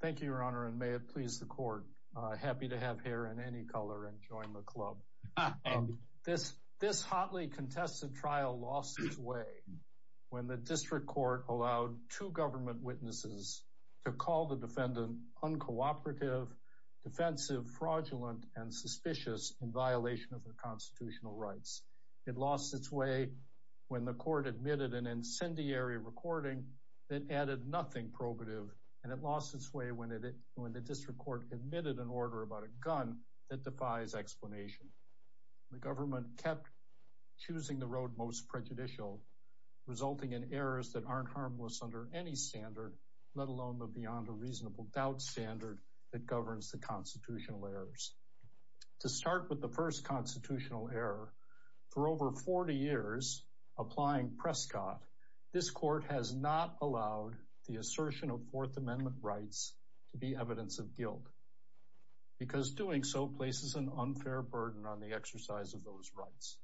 thank you your honor and may it please the court happy to have hair in any color and join the club this this hotly contested trial lost its way when the district court allowed two government witnesses to call the defendant uncooperative defensive fraudulent and suspicious in violation of the constitutional rights it lost its way when the court admitted an incendiary recording that added nothing probative and it lost its way when it when the district court admitted an order about a gun that defies explanation the government kept choosing the road most prejudicial resulting in errors that aren't harmless under any standard let alone the beyond a reasonable doubt standard that governs the constitutional errors to start with the first constitutional error for over 40 years applying Prescott this court has not allowed the assertion of fourth amendment rights to be evidence of guilt because doing so places an unfair burden on the exercise of those rights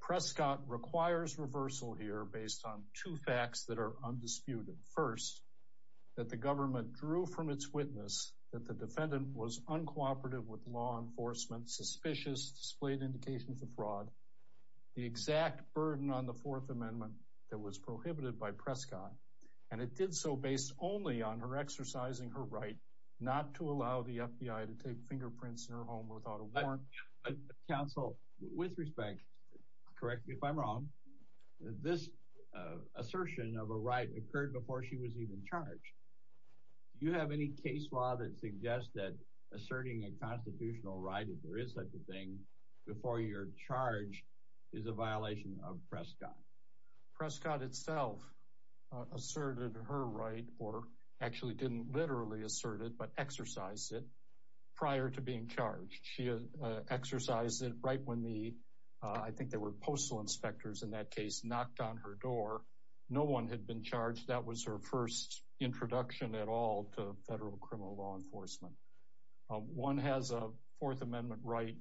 Prescott requires reversal here based on two facts that are undisputed first that the government drew from its witness that the defendant was uncooperative with law enforcement suspicious displayed indications of fraud the exact burden on the fourth amendment that was prohibited by Prescott and it did so based only on her exercising her right not to allow the FBI to take fingerprints in her home without a warrant counsel with respect correct me if i'm wrong this assertion of a right occurred before she was even charged do you have any case law that suggests that asserting a constitutional right if there is such a thing before you're charged is a violation of Prescott Prescott itself asserted her right or actually didn't literally assert it but exercised it prior to being charged she exercised it right when the i think there were postal inspectors in that case knocked on her door no one had been charged that was her first introduction at all to federal criminal law enforcement one has a fourth amendment right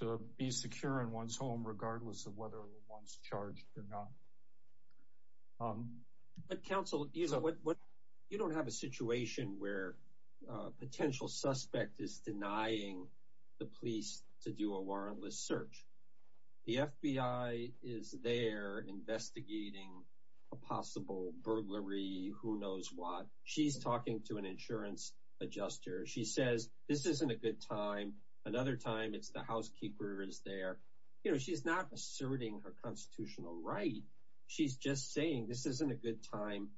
to be secure in one's home regardless of whether one's charged or not but counsel you don't have a situation where a potential suspect is denying the police to do a warrantless search the FBI is there investigating a possible burglary who knows what she's talking to an insurance adjuster she says this isn't a good time another time it's the housekeeper is there you know she's not asserting her constitutional right she's just saying this isn't a good time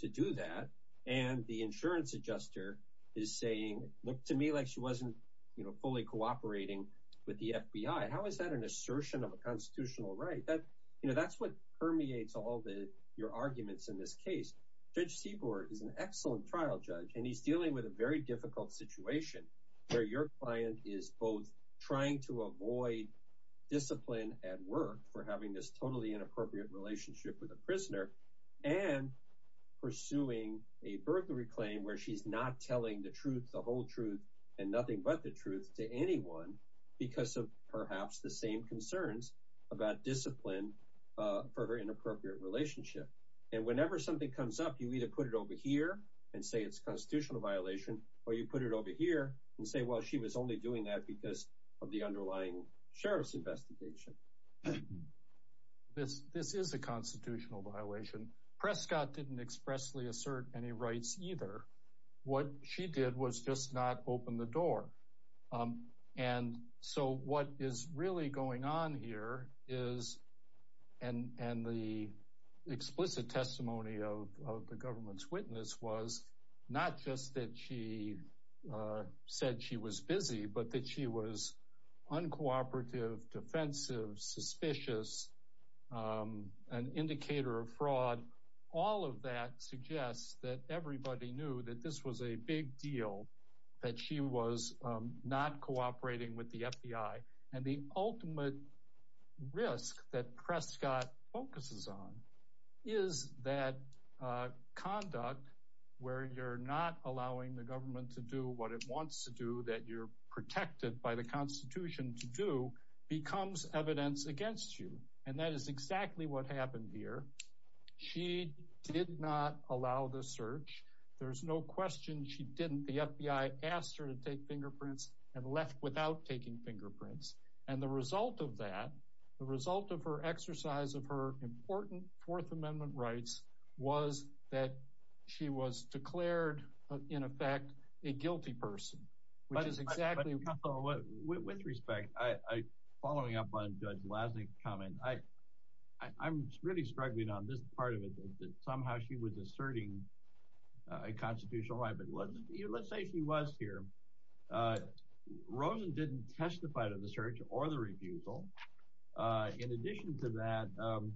to do that and the insurance adjuster is saying look to me like she wasn't you know fully cooperating with the FBI how is that an assertion of a constitutional right that you know that's what permeates all the your arguments in this case judge Seaborg is an excellent trial judge and he's dealing with a very difficult situation where your client is both trying to avoid discipline at work for having this totally inappropriate relationship with a prisoner and pursuing a burglary claim where she's not telling the truth the whole truth and nothing but the truth to anyone because of perhaps the same concerns about discipline uh for her inappropriate relationship and whenever something comes up you either put it over here and say it's constitutional violation or you put it over here and say well she was only doing that because of the underlying sheriff's investigation this this is a constitutional violation Prescott didn't expressly assert any rights either what she did was just not open the door um and so what is really going on here is and and the explicit testimony of the government's witness was not just that she uh said she was busy but that she was uncooperative defensive suspicious um an indicator of fraud all of that suggests that everybody knew that this was a big deal that she was not cooperating with the FBI and the ultimate risk that Prescott focuses on is that uh conduct where you're not allowing the government to do what it wants to do that you're constitution to do becomes evidence against you and that is exactly what happened here she did not allow the search there's no question she didn't the FBI asked her to take fingerprints and left without taking fingerprints and the result of that the result of her exercise of her important fourth amendment rights was that she was declared in effect a guilty person which is exactly what with respect i following up on judge lasnik comment i i'm really struggling on this part of it that somehow she was asserting a constitutional right but let's let's say she was here uh rosen didn't testify to the search or the refusal uh in addition to that um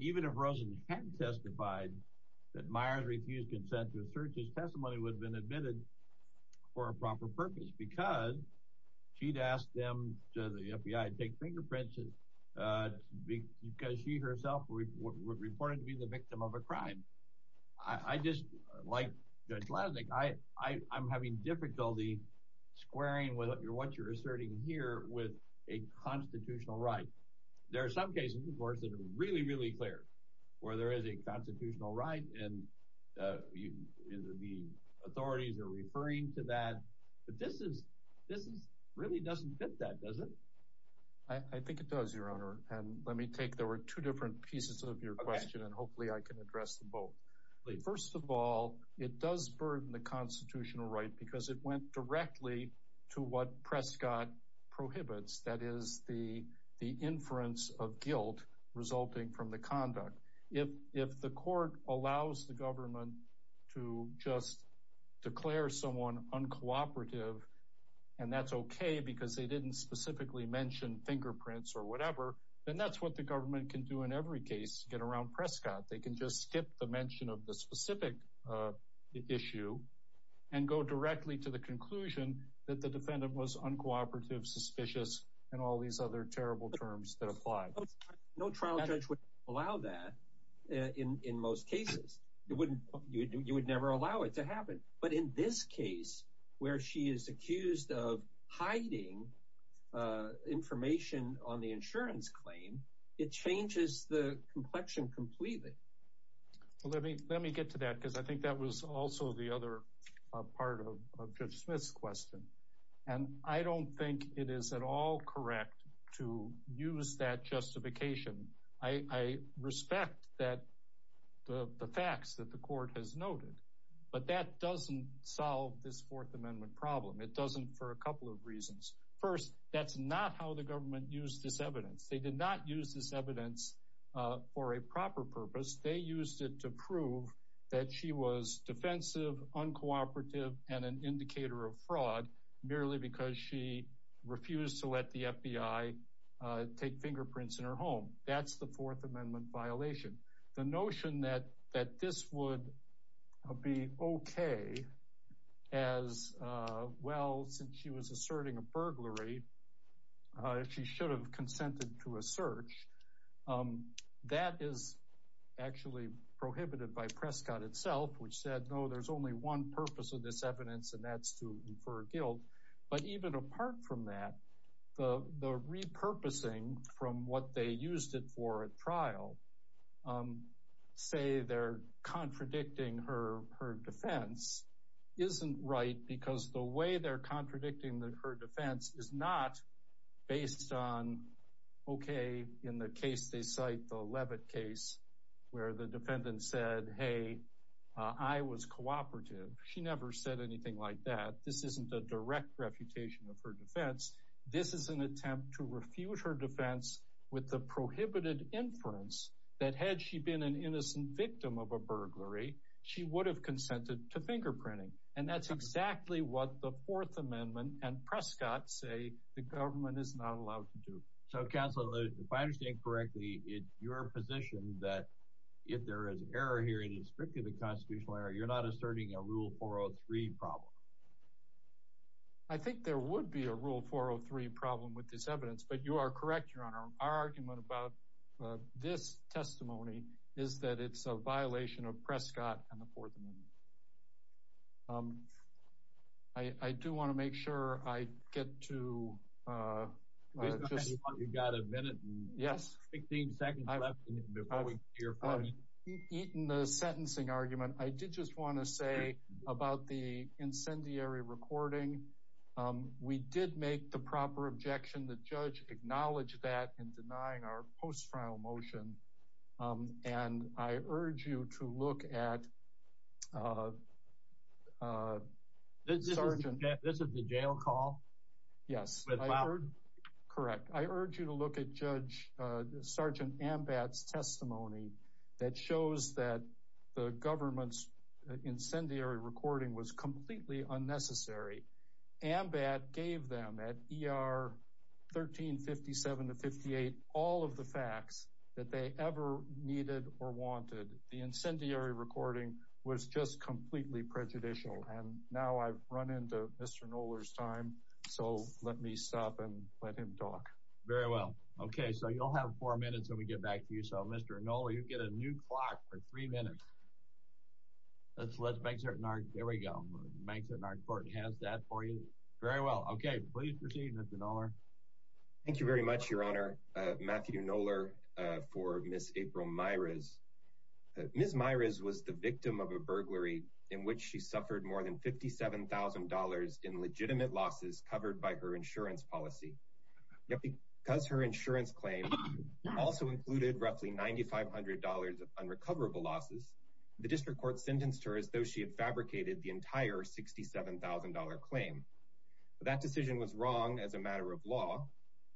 even if rosen hadn't testified that myers refused consent to assert his testimony would have been admitted for a proper purpose because she'd asked them to the FBI to take fingerprints uh because she herself reported to be the victim of a crime i i just like judge lasnik i i i'm having difficulty squaring with what you're asserting here with a constitutional right there are some cases of course that are really really clear where there is a constitutional right and uh the authorities are referring to that but this is this is really doesn't fit that does it i i think it does your honor and let me take there were two different pieces of your question and hopefully i can address them both first of all it does burden the constitutional right because it went directly to what prescott prohibits that is the the inference of guilt resulting from the conduct if if the court allows the government to just declare someone uncooperative and that's okay because they didn't specifically mention fingerprints or whatever then that's what the government can do in every case get around prescott they can just skip the mention of the specific uh issue and go directly to the conclusion that the defendant was uncooperative suspicious and all these other terrible terms that apply no trial judge would allow that in in most cases it wouldn't you would never allow it to happen but in this case where she is accused of hiding uh information on the insurance claim it changes the complexion completely well let me let me get to that because i think that was also the other part of judge smith's question and i don't think it is at all correct to use that justification i i respect that the the facts that the court has noted but that doesn't solve this fourth amendment problem it doesn't for a couple of reasons first that's not how the government used this evidence they did not use this evidence for a proper purpose they used it to prove that she was defensive uncooperative and an indicator of fraud merely because she refused to let the fbi uh take fingerprints in her home that's the fourth amendment violation the notion that that this would be okay as uh well since she was asserting a burglary uh she should have consented to a search um that is actually prohibited by for a guilt but even apart from that the the repurposing from what they used it for at trial um say they're contradicting her her defense isn't right because the way they're contradicting her defense is not based on okay in the case they cite the levitt case where the defendant said hey i was cooperative she never said anything like that this isn't a direct refutation of her defense this is an attempt to refuse her defense with the prohibited inference that had she been an innocent victim of a burglary she would have consented to fingerprinting and that's exactly what the fourth amendment and prescott say the government is not allowed to do so counsel if i constitutional error you're not asserting a rule 403 problem i think there would be a rule 403 problem with this evidence but you are correct your honor our argument about this testimony is that it's a violation of prescott and the fourth amendment um i i do want to make sure i get to uh you got a minute yes 15 seconds before we hear from you eaten the sentencing argument i did just want to say about the incendiary recording um we did make the proper objection the judge acknowledged that in denying our post-trial motion um and i urge you to look at uh uh this is the jail call yes wow correct i urge you to look at judge uh sergeant ambat's testimony that shows that the government's incendiary recording was completely unnecessary ambat gave them at er 13 57 to 58 all of the facts that they ever needed or wanted the incendiary recording was just completely prejudicial and now i've run into mr noler's time so let me stop and let him talk very well okay so you'll have four minutes when we get back to you so mr no you get a new clock for three minutes let's let's make certain our there we go makes it not important has that for you very well okay please proceed mr noler thank you very much your honor uh matthew noler for miss april miras miss miras was the victim of a burglary in which she suffered more than 57 000 in legitimate losses covered by her insurance policy yet because her insurance claim also included roughly 9 500 of unrecoverable losses the district court sentenced her as though she had fabricated the entire 67 000 claim that decision was wrong as a matter of law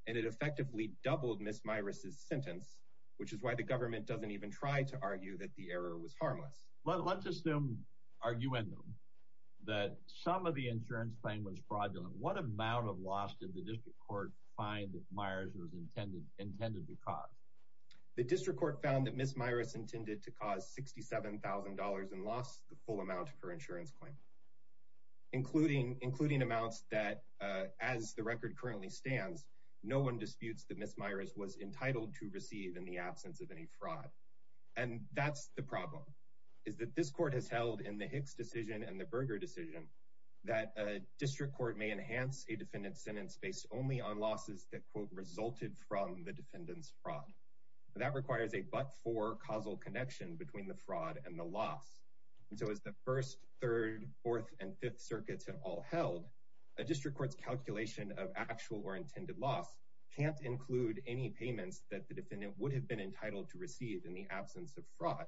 and it effectively doubled miss miras's sentence which is why the government doesn't even try to argue that the error was harmless let's assume argue in them that some of the insurance claim was fraudulent what amount of loss did the district court find that mires was intended intended to cause the district court found that miss miras intended to cause 67 000 and lost the no one disputes that miss miras was entitled to receive in the absence of any fraud and that's the problem is that this court has held in the hicks decision and the burger decision that a district court may enhance a defendant's sentence based only on losses that quote resulted from the defendant's fraud that requires a but for causal connection between the fraud and the loss and so as the first third fourth and fifth circuits have all held a district court's actual or intended loss can't include any payments that the defendant would have been entitled to receive in the absence of fraud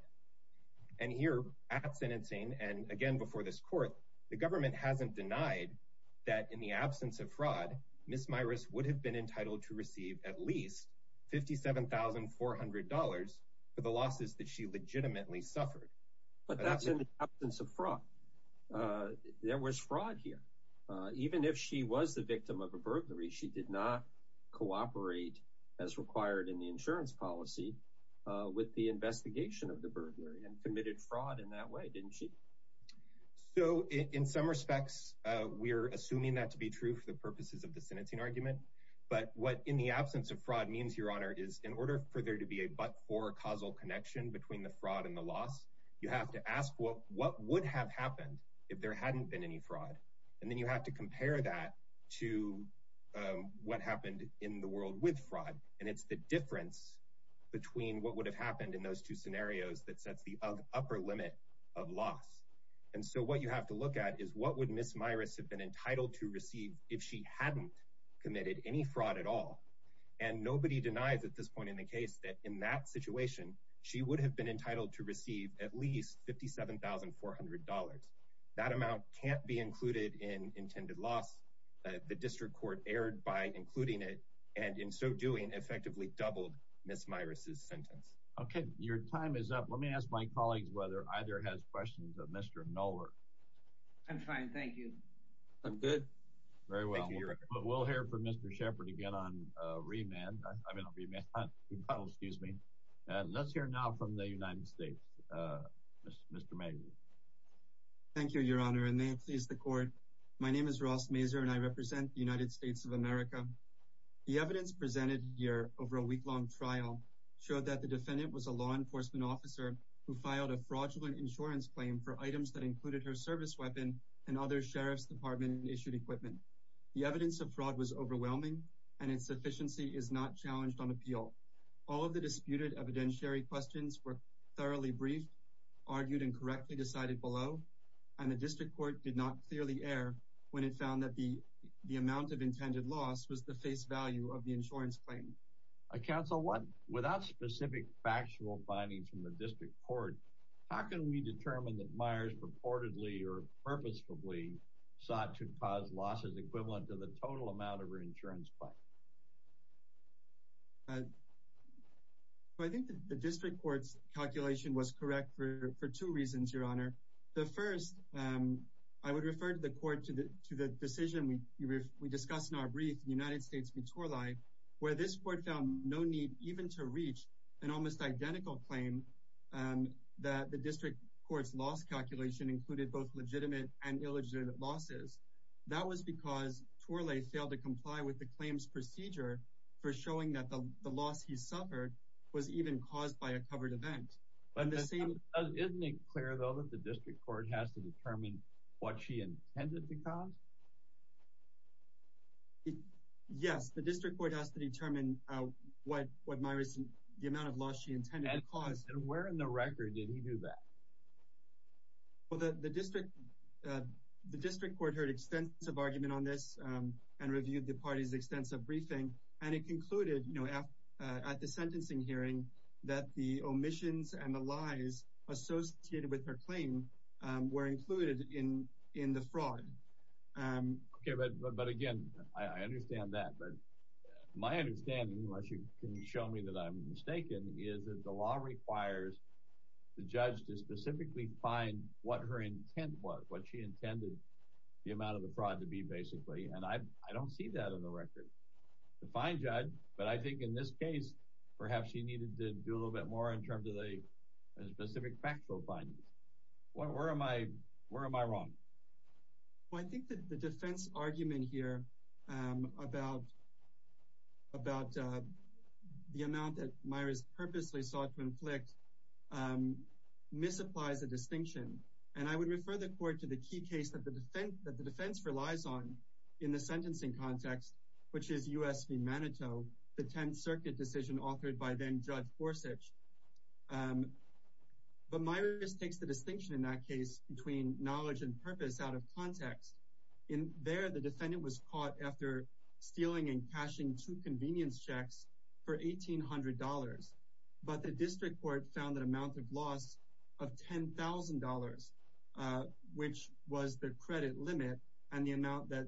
and here at sentencing and again before this court the government hasn't denied that in the absence of fraud miss miras would have been entitled to receive at least 57 400 for the losses that she legitimately suffered but that's in the absence of fraud there was fraud here even if she was the victim of a burglary she did not cooperate as required in the insurance policy with the investigation of the burglary and committed fraud in that way didn't she so in some respects uh we're assuming that to be true for the purposes of the sentencing argument but what in the absence of fraud means your honor is in order for there to be a but for causal connection between the fraud and the loss you have to ask what what would have happened if there hadn't been any fraud and then you have to compare that to um what happened in the world with fraud and it's the difference between what would have happened in those two scenarios that sets the upper limit of loss and so what you have to look at is what would miss miras have been entitled to receive if she hadn't committed any fraud at all and nobody denies at this point in the case that in that situation she would have been entitled to receive at least 57 400 that amount can't be included in intended loss the district court erred by including it and in so doing effectively doubled miss miras's sentence okay your time is up let me ask my colleagues whether either has questions of mr noler i'm fine thank you i'm good very well we'll hear from mr shepherd again on uh remand i mean excuse me and let's hear now from the united states uh mr mason thank you your honor and may it please the court my name is ross maser and i represent the united states of america the evidence presented here over a week-long trial showed that the defendant was a law enforcement officer who filed a fraudulent insurance claim for items that included her service weapon and other sheriff's department issued equipment the evidence of fraud was overwhelming and its sufficiency is not challenged on appeal all of the disputed evidentiary questions were thoroughly briefed argued and correctly decided below and the district court did not clearly err when it found that the the amount of intended loss was the face value of the insurance claim i counsel what without specific factual findings from the district court how can we determine that myers purportedly or purposefully sought to cause losses equivalent to the total amount of her insurance plan so i think the district court's calculation was correct for for two reasons your honor the first um i would refer to the court to the to the decision we we discussed in our brief united states vitorlai where this court found no need even to reach an almost identical claim um that the district court's loss calculation included both legitimate and illegitimate losses that was because twirly failed to comply with the claims procedure for showing that the loss he suffered was even caused by a covered event but the same isn't it clear though that the district court has to determine what she intended to cause yes the district court has to determine uh what what my recent the amount of loss she intended to cause and where in the record did he do that well the the district uh the district court heard extensive argument on this um and reviewed the party's extensive briefing and it concluded you know at the sentencing hearing that the omissions and the lies associated with her claim um were included in in the fraud um okay but but again i understand that but my understanding unless you can show me that i'm mistaken is that the law requires the judge to specifically find what her intent was what she intended the amount of the fraud to be basically and i i don't see that on the record the fine judge but i think in this case perhaps she needed to do a little bit more in terms of a specific factual findings what where am i where am i wrong well i think that the defense argument here um about about uh the amount that myra's purposely sought to inflict um misapplies a distinction and i would refer the court to the key case that the defense that the defense relies on in the sentencing context which is usv manito the 10th circuit decision authored by then judge forsage um but my risk takes the distinction in that case between knowledge and purpose out of context in there the defendant was caught after stealing and cashing two convenience checks for eighteen hundred dollars but the district court found an amount of loss of ten thousand dollars uh which was the credit limit and the amount that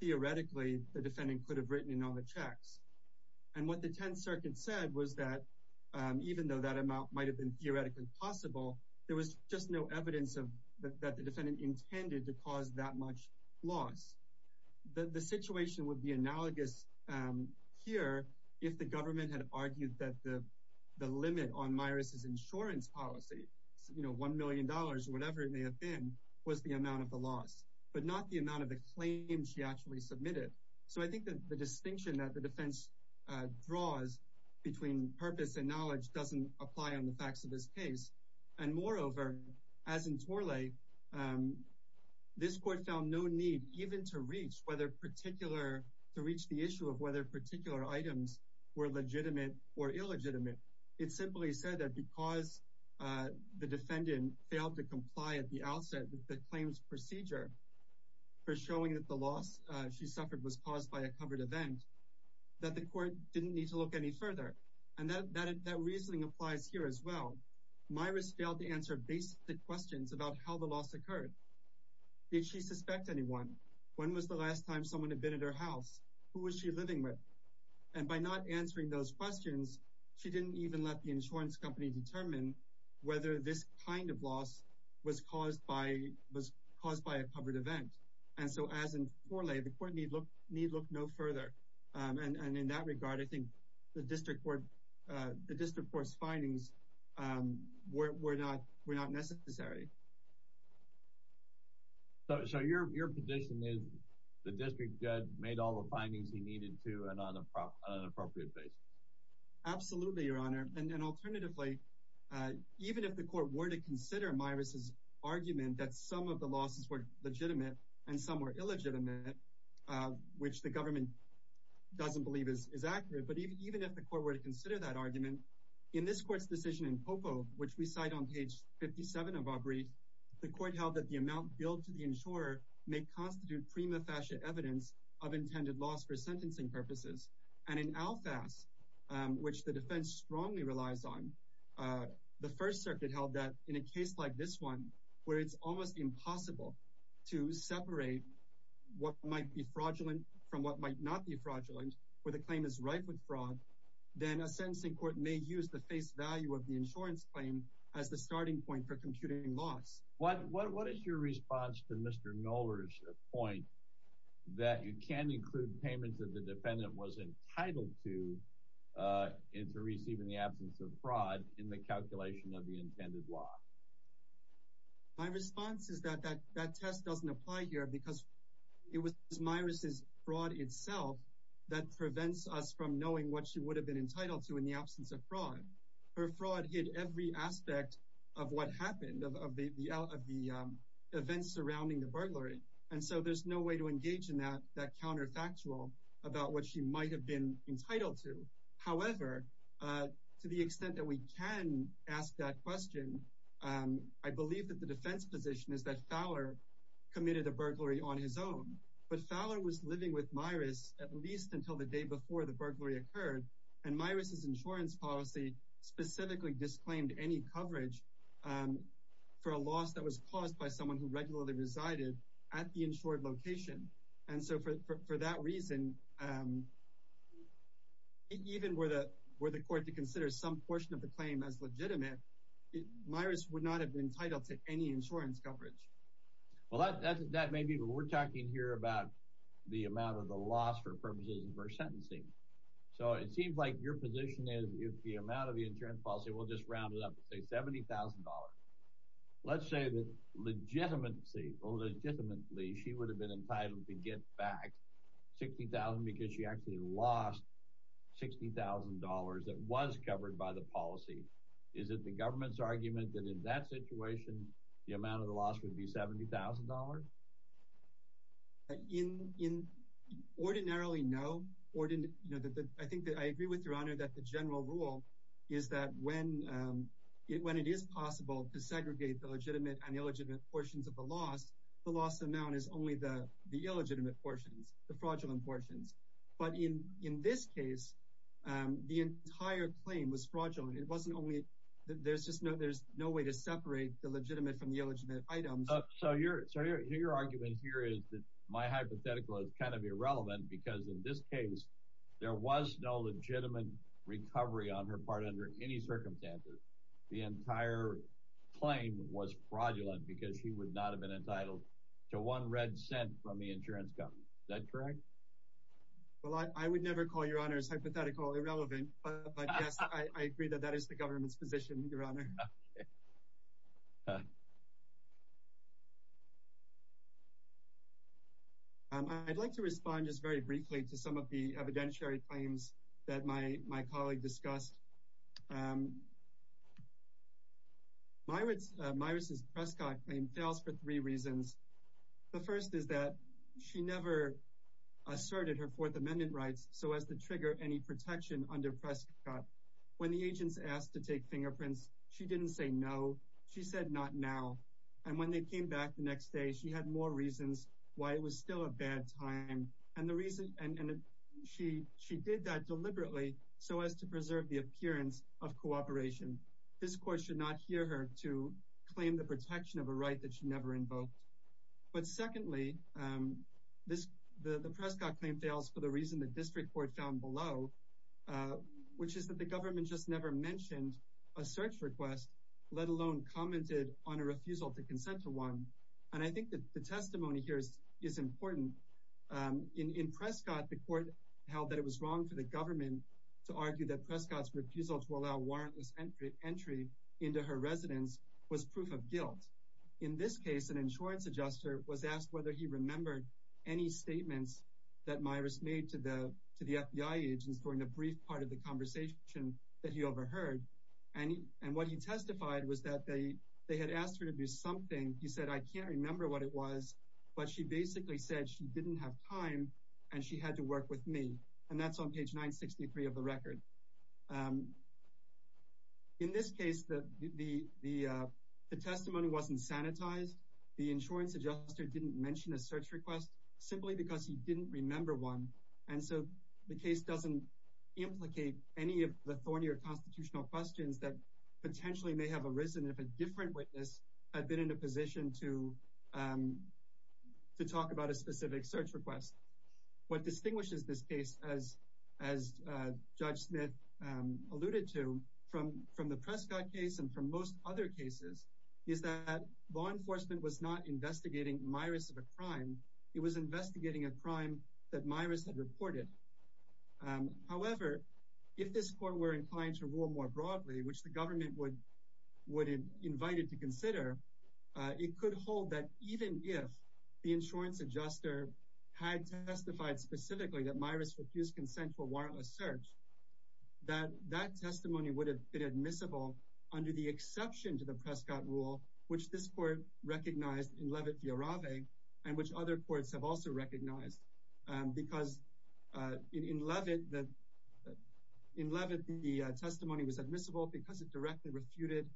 theoretically the defendant could have written in on the checks and what the 10th circuit said was that um even though that amount might have been theoretically possible there was just no evidence of that the defendant intended to cause that much loss the the situation would be analogous um here if the government had argued that the the limit on myra's insurance policy you know one million dollars or whatever it may have been was the amount of the loss but not the amount of the claim she actually submitted so i think that the distinction that the defense uh draws between purpose and knowledge doesn't apply on facts of this case and moreover as in tourley um this court found no need even to reach whether particular to reach the issue of whether particular items were legitimate or illegitimate it simply said that because uh the defendant failed to comply at the outset with the claims procedure for showing that the loss uh she suffered was caused by a covered event that the court didn't need to look any further and that that reasoning applies here as well my risk failed to answer basic questions about how the loss occurred did she suspect anyone when was the last time someone had been at her house who was she living with and by not answering those questions she didn't even let the insurance company determine whether this kind of loss was caused by was caused by a covered event and so as in forlay the court need look need look no further um and and in that regard i think the district court uh the district court's findings um were not were not necessary so your your position is the district judge made all the findings he needed to and on an appropriate basis absolutely your honor and then alternatively uh even if the court were to consider miras's argument that some of the losses were legitimate and some were illegitimate uh which the government doesn't believe is accurate but even if the court were to consider that argument in this court's decision in popo which we cite on page 57 of our brief the court held that the amount billed to the insurer may constitute prima facie evidence of intended loss for sentencing purposes and in alfas um which the defense strongly relies on uh the first circuit held that in a case like this one where it's almost impossible to separate what might be fraudulent from what might not be fraudulent where the claim is rife with fraud then a sentencing court may use the face value of the insurance claim as the starting point for computing loss what what is your response to mr noler's point that you can include payments that the defendant was entitled to uh into receiving the absence of fraud in the calculation of the intended law my response is that that that test doesn't apply here because it was miras's fraud itself that prevents us from knowing what she would have been entitled to in the absence of fraud her fraud hid every aspect of what happened of the of the events surrounding the burglary and so there's no way to engage in that that counterfactual about what she might have been entitled to however uh to the extent that we can ask that question um i believe that the defense position is that fowler committed a burglary on his own but fowler was living with miras at least until the day before the burglary occurred and miras's insurance policy specifically disclaimed any coverage um for a loss that was caused by someone who regularly resided at the insured location and so for for that reason um even where the where the court to consider some portion of the claim as legitimate miras would not have been entitled to any insurance coverage well that that may be but we're talking here about the amount of the loss for purposes of our sentencing so it seems like your position is if the amount of the insurance policy we'll just round it up to say seventy thousand dollars let's say that legitimacy or legitimately she would have been entitled to get back sixty thousand because she actually lost sixty thousand dollars that was covered by the policy is it the government's argument that in that situation the amount of the loss would be $70,000 in in ordinarily no or didn't you know that i think that i agree with your honor that the general rule is that when um when it is possible to segregate the legitimate and illegitimate portions of the loss the loss amount is only the the illegitimate portions the fraudulent portions but in in this case um the entire claim was fraudulent it wasn't only there's just no there's no way to separate the legitimate from the illegitimate items so your so your argument here is that my hypothetical is kind of irrelevant because in this case there was no legitimate recovery on her part under any circumstances the entire claim was fraudulent because she would not have been entitled to one red cent from the insurance company is that correct well i would never call your honor's hypothetical irrelevant but yes i agree that that is the government's position your honor um i'd like to respond just very briefly to some of the evidentiary claims that my my colleague discussed um my words uh myrus's prescott claim fails for three reasons the first is that she never asserted her fourth amendment rights so as to trigger any protection under prescott when the agents asked to take fingerprints she didn't say no she said not now and when they came back the next day she had more reasons why it was still a bad time and the reason and she she did that deliberately so as to preserve the appearance of cooperation this court should not hear her to claim the protection of a right that she never invoked but secondly um the prescott claim fails for the reason the district court found below uh which is that the government just never mentioned a search request let alone commented on a refusal to consent to one and i think that the testimony here is is important um in in prescott the court held that it was wrong for the government to argue that prescott's refusal to allow warrantless entry entry into her residence was proof of guilt in this case an insurance adjuster was asked whether he remembered any statements that myrus made to the to the fbi agents during the brief part of the conversation that he overheard and and what he testified was that they they had asked her to do something he said i can't remember what it was but she basically said she didn't have time and she had to work with me and that's on page 963 of the record um in this case the the the uh wasn't sanitized the insurance adjuster didn't mention a search request simply because he didn't remember one and so the case doesn't implicate any of the thorny or constitutional questions that potentially may have arisen if a different witness had been in a position to um to talk about a specific search request what distinguishes this case as as uh judge smith um alluded to from from the prescott case and from most other cases is that law enforcement was not investigating myrus of a crime it was investigating a crime that myrus had reported um however if this court were inclined to rule more broadly which the government would would have invited to consider it could hold that even if the insurance adjuster had testified specifically that that testimony would have been admissible under the exception to the prescott rule which this court recognized in levitt via rave and which other courts have also recognized because uh in levitt that in levitt the testimony was admissible because it directly refuted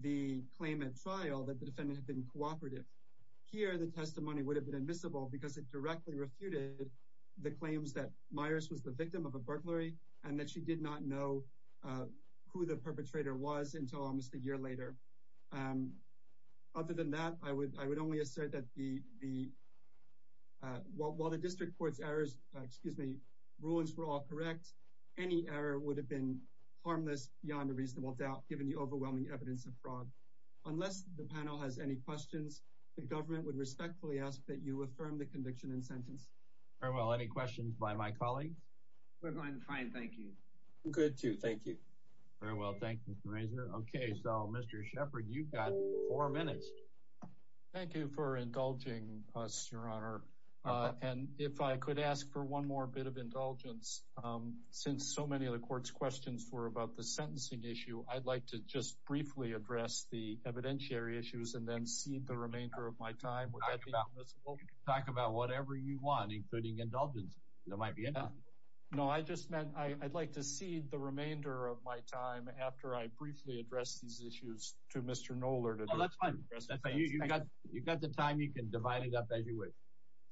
the claim at trial that the defendant had been cooperative here the testimony would have been admissible because it directly refuted the claims that myers was the victim of a burglary and that she did not know uh who the perpetrator was until almost a year later um other than that i would i would only assert that the the uh while the district court's errors excuse me rulings were all correct any error would have been harmless beyond a reasonable doubt given the overwhelming evidence of fraud unless the panel has any questions the government would respectfully ask that you affirm the conviction and sentence very well any questions by my colleagues we're going fine thank you good too thank you very well thank you mr razor okay so mr shepherd you've got four minutes thank you for indulging us your honor and if i could ask for one more bit of indulgence um since so many of the court's questions were about the sentencing issue i'd like to just briefly address the evidentiary issues and cede the remainder of my time would that be possible talk about whatever you want including indulgence that might be enough no i just meant i i'd like to cede the remainder of my time after i briefly address these issues to mr noller to let's find you got you got the time you can divide it up as you wish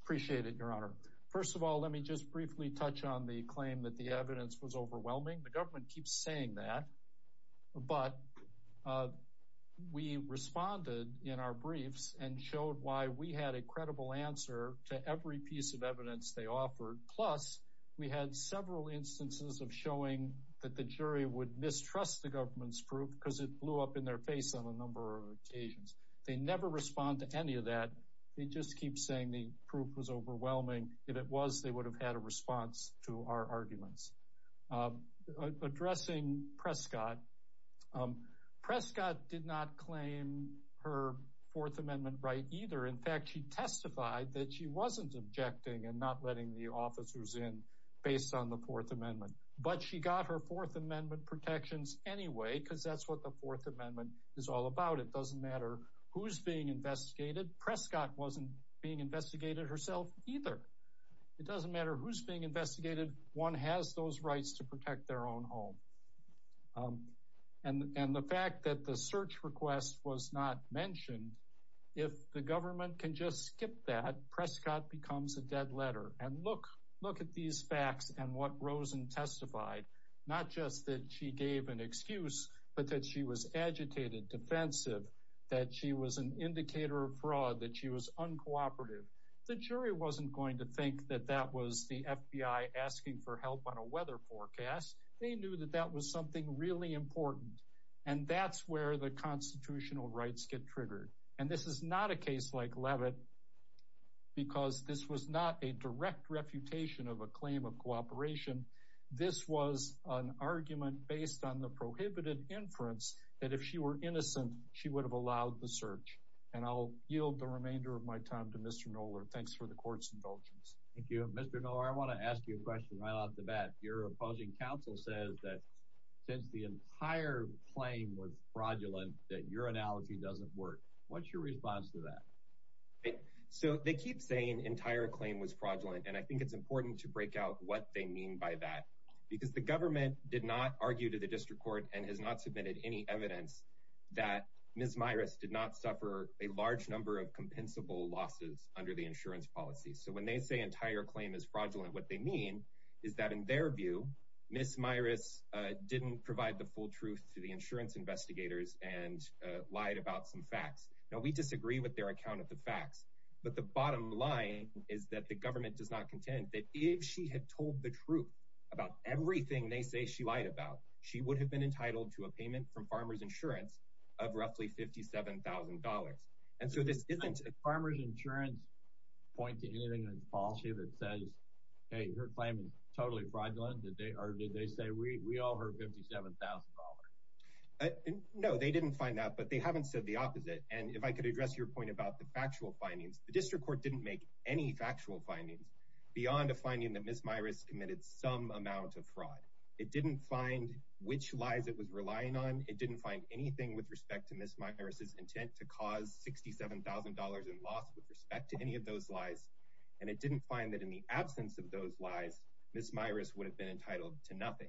appreciate it your honor first of all let me just briefly touch on the claim that the evidence was overwhelming the government keeps saying that but uh we responded in our briefs and showed why we had a credible answer to every piece of evidence they offered plus we had several instances of showing that the jury would mistrust the government's proof because it blew up in their face on a number of occasions they never respond to any of that they just keep saying the proof was overwhelming if it was they would have had a response to our her fourth amendment right either in fact she testified that she wasn't objecting and not letting the officers in based on the fourth amendment but she got her fourth amendment protections anyway because that's what the fourth amendment is all about it doesn't matter who's being investigated prescott wasn't being investigated herself either it doesn't matter who's being investigated one has those rights to protect their own home um and and the fact that the search request was not mentioned if the government can just skip that prescott becomes a dead letter and look look at these facts and what rosen testified not just that she gave an excuse but that she was agitated defensive that she was an indicator of fraud that she was uncooperative the jury wasn't going to think that that was the fbi asking for help on a weather forecast they knew that that was something really important and that's where the constitutional rights get triggered and this is not a case like levitt because this was not a direct refutation of a claim of cooperation this was an argument based on the prohibited inference that if she were innocent she would have allowed the search and i'll yield the remainder of my time to mr noler thanks for the court's indulgence thank you mr no i want to ask you a question right off the your opposing counsel says that since the entire claim was fraudulent that your analogy doesn't work what's your response to that so they keep saying entire claim was fraudulent and i think it's important to break out what they mean by that because the government did not argue to the district court and has not submitted any evidence that ms myris did not suffer a large number of compensable losses under the insurance policy so when they say entire claim is fraudulent what they mean is that in their view miss myris uh didn't provide the full truth to the insurance investigators and lied about some facts now we disagree with their account of the facts but the bottom line is that the government does not contend that if she had told the truth about everything they say she lied about she would have been entitled to a payment from farmers insurance of roughly 57 000 and so this isn't a farmer's insurance point to anything in the policy that says hey her claim is totally fraudulent did they or did they say we we all heard 57 000 no they didn't find that but they haven't said the opposite and if i could address your point about the factual findings the district court didn't make any factual findings beyond a finding that miss myris committed some amount of fraud it didn't find which lies it was relying on it didn't find anything with respect to miss intent to cause 67 000 in loss with respect to any of those lies and it didn't find that in the absence of those lies miss myris would have been entitled to nothing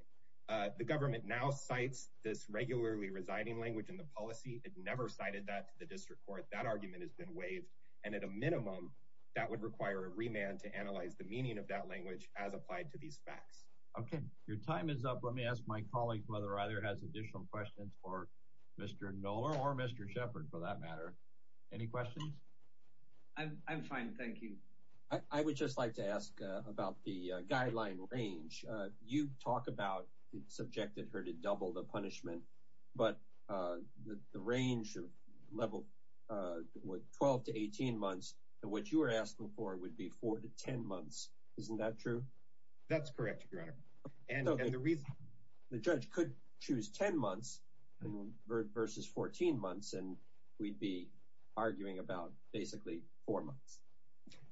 uh the government now cites this regularly residing language in the policy it never cited that to the district court that argument has been waived and at a minimum that would require a remand to analyze the meaning of that language as applied to these facts okay your time is up let me ask my colleagues whether either has additional questions for mr knoller or mr shepherd for that matter any questions i'm i'm fine thank you i would just like to ask about the guideline range uh you talk about it subjected her to double the punishment but uh the range of level uh with 12 to 18 months what you were asking for would be four to ten months isn't that true that's correct your honor and the reason the judge could choose 10 months versus 14 months and we'd be arguing about basically four months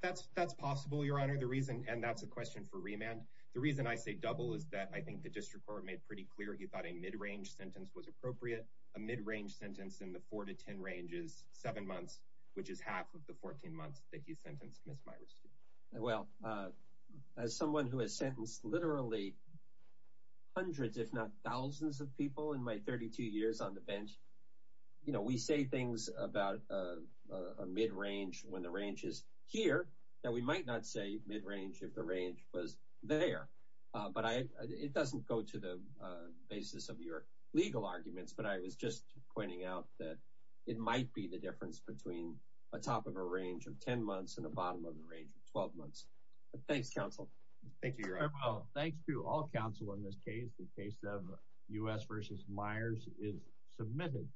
that's that's possible your honor the reason and that's a question for remand the reason i say double is that i think the district court made pretty clear he thought a mid-range sentence was appropriate a mid-range sentence in the four to ten ranges seven months which is half of the 14 months that my 32 years on the bench you know we say things about a mid-range when the range is here that we might not say mid-range if the range was there but i it doesn't go to the basis of your legal arguments but i was just pointing out that it might be the difference between a top of a range of 10 months and the bottom of the range of 12 months but thanks counsel thank you well thanks to all counsel in this case the case of u.s versus myers is submitted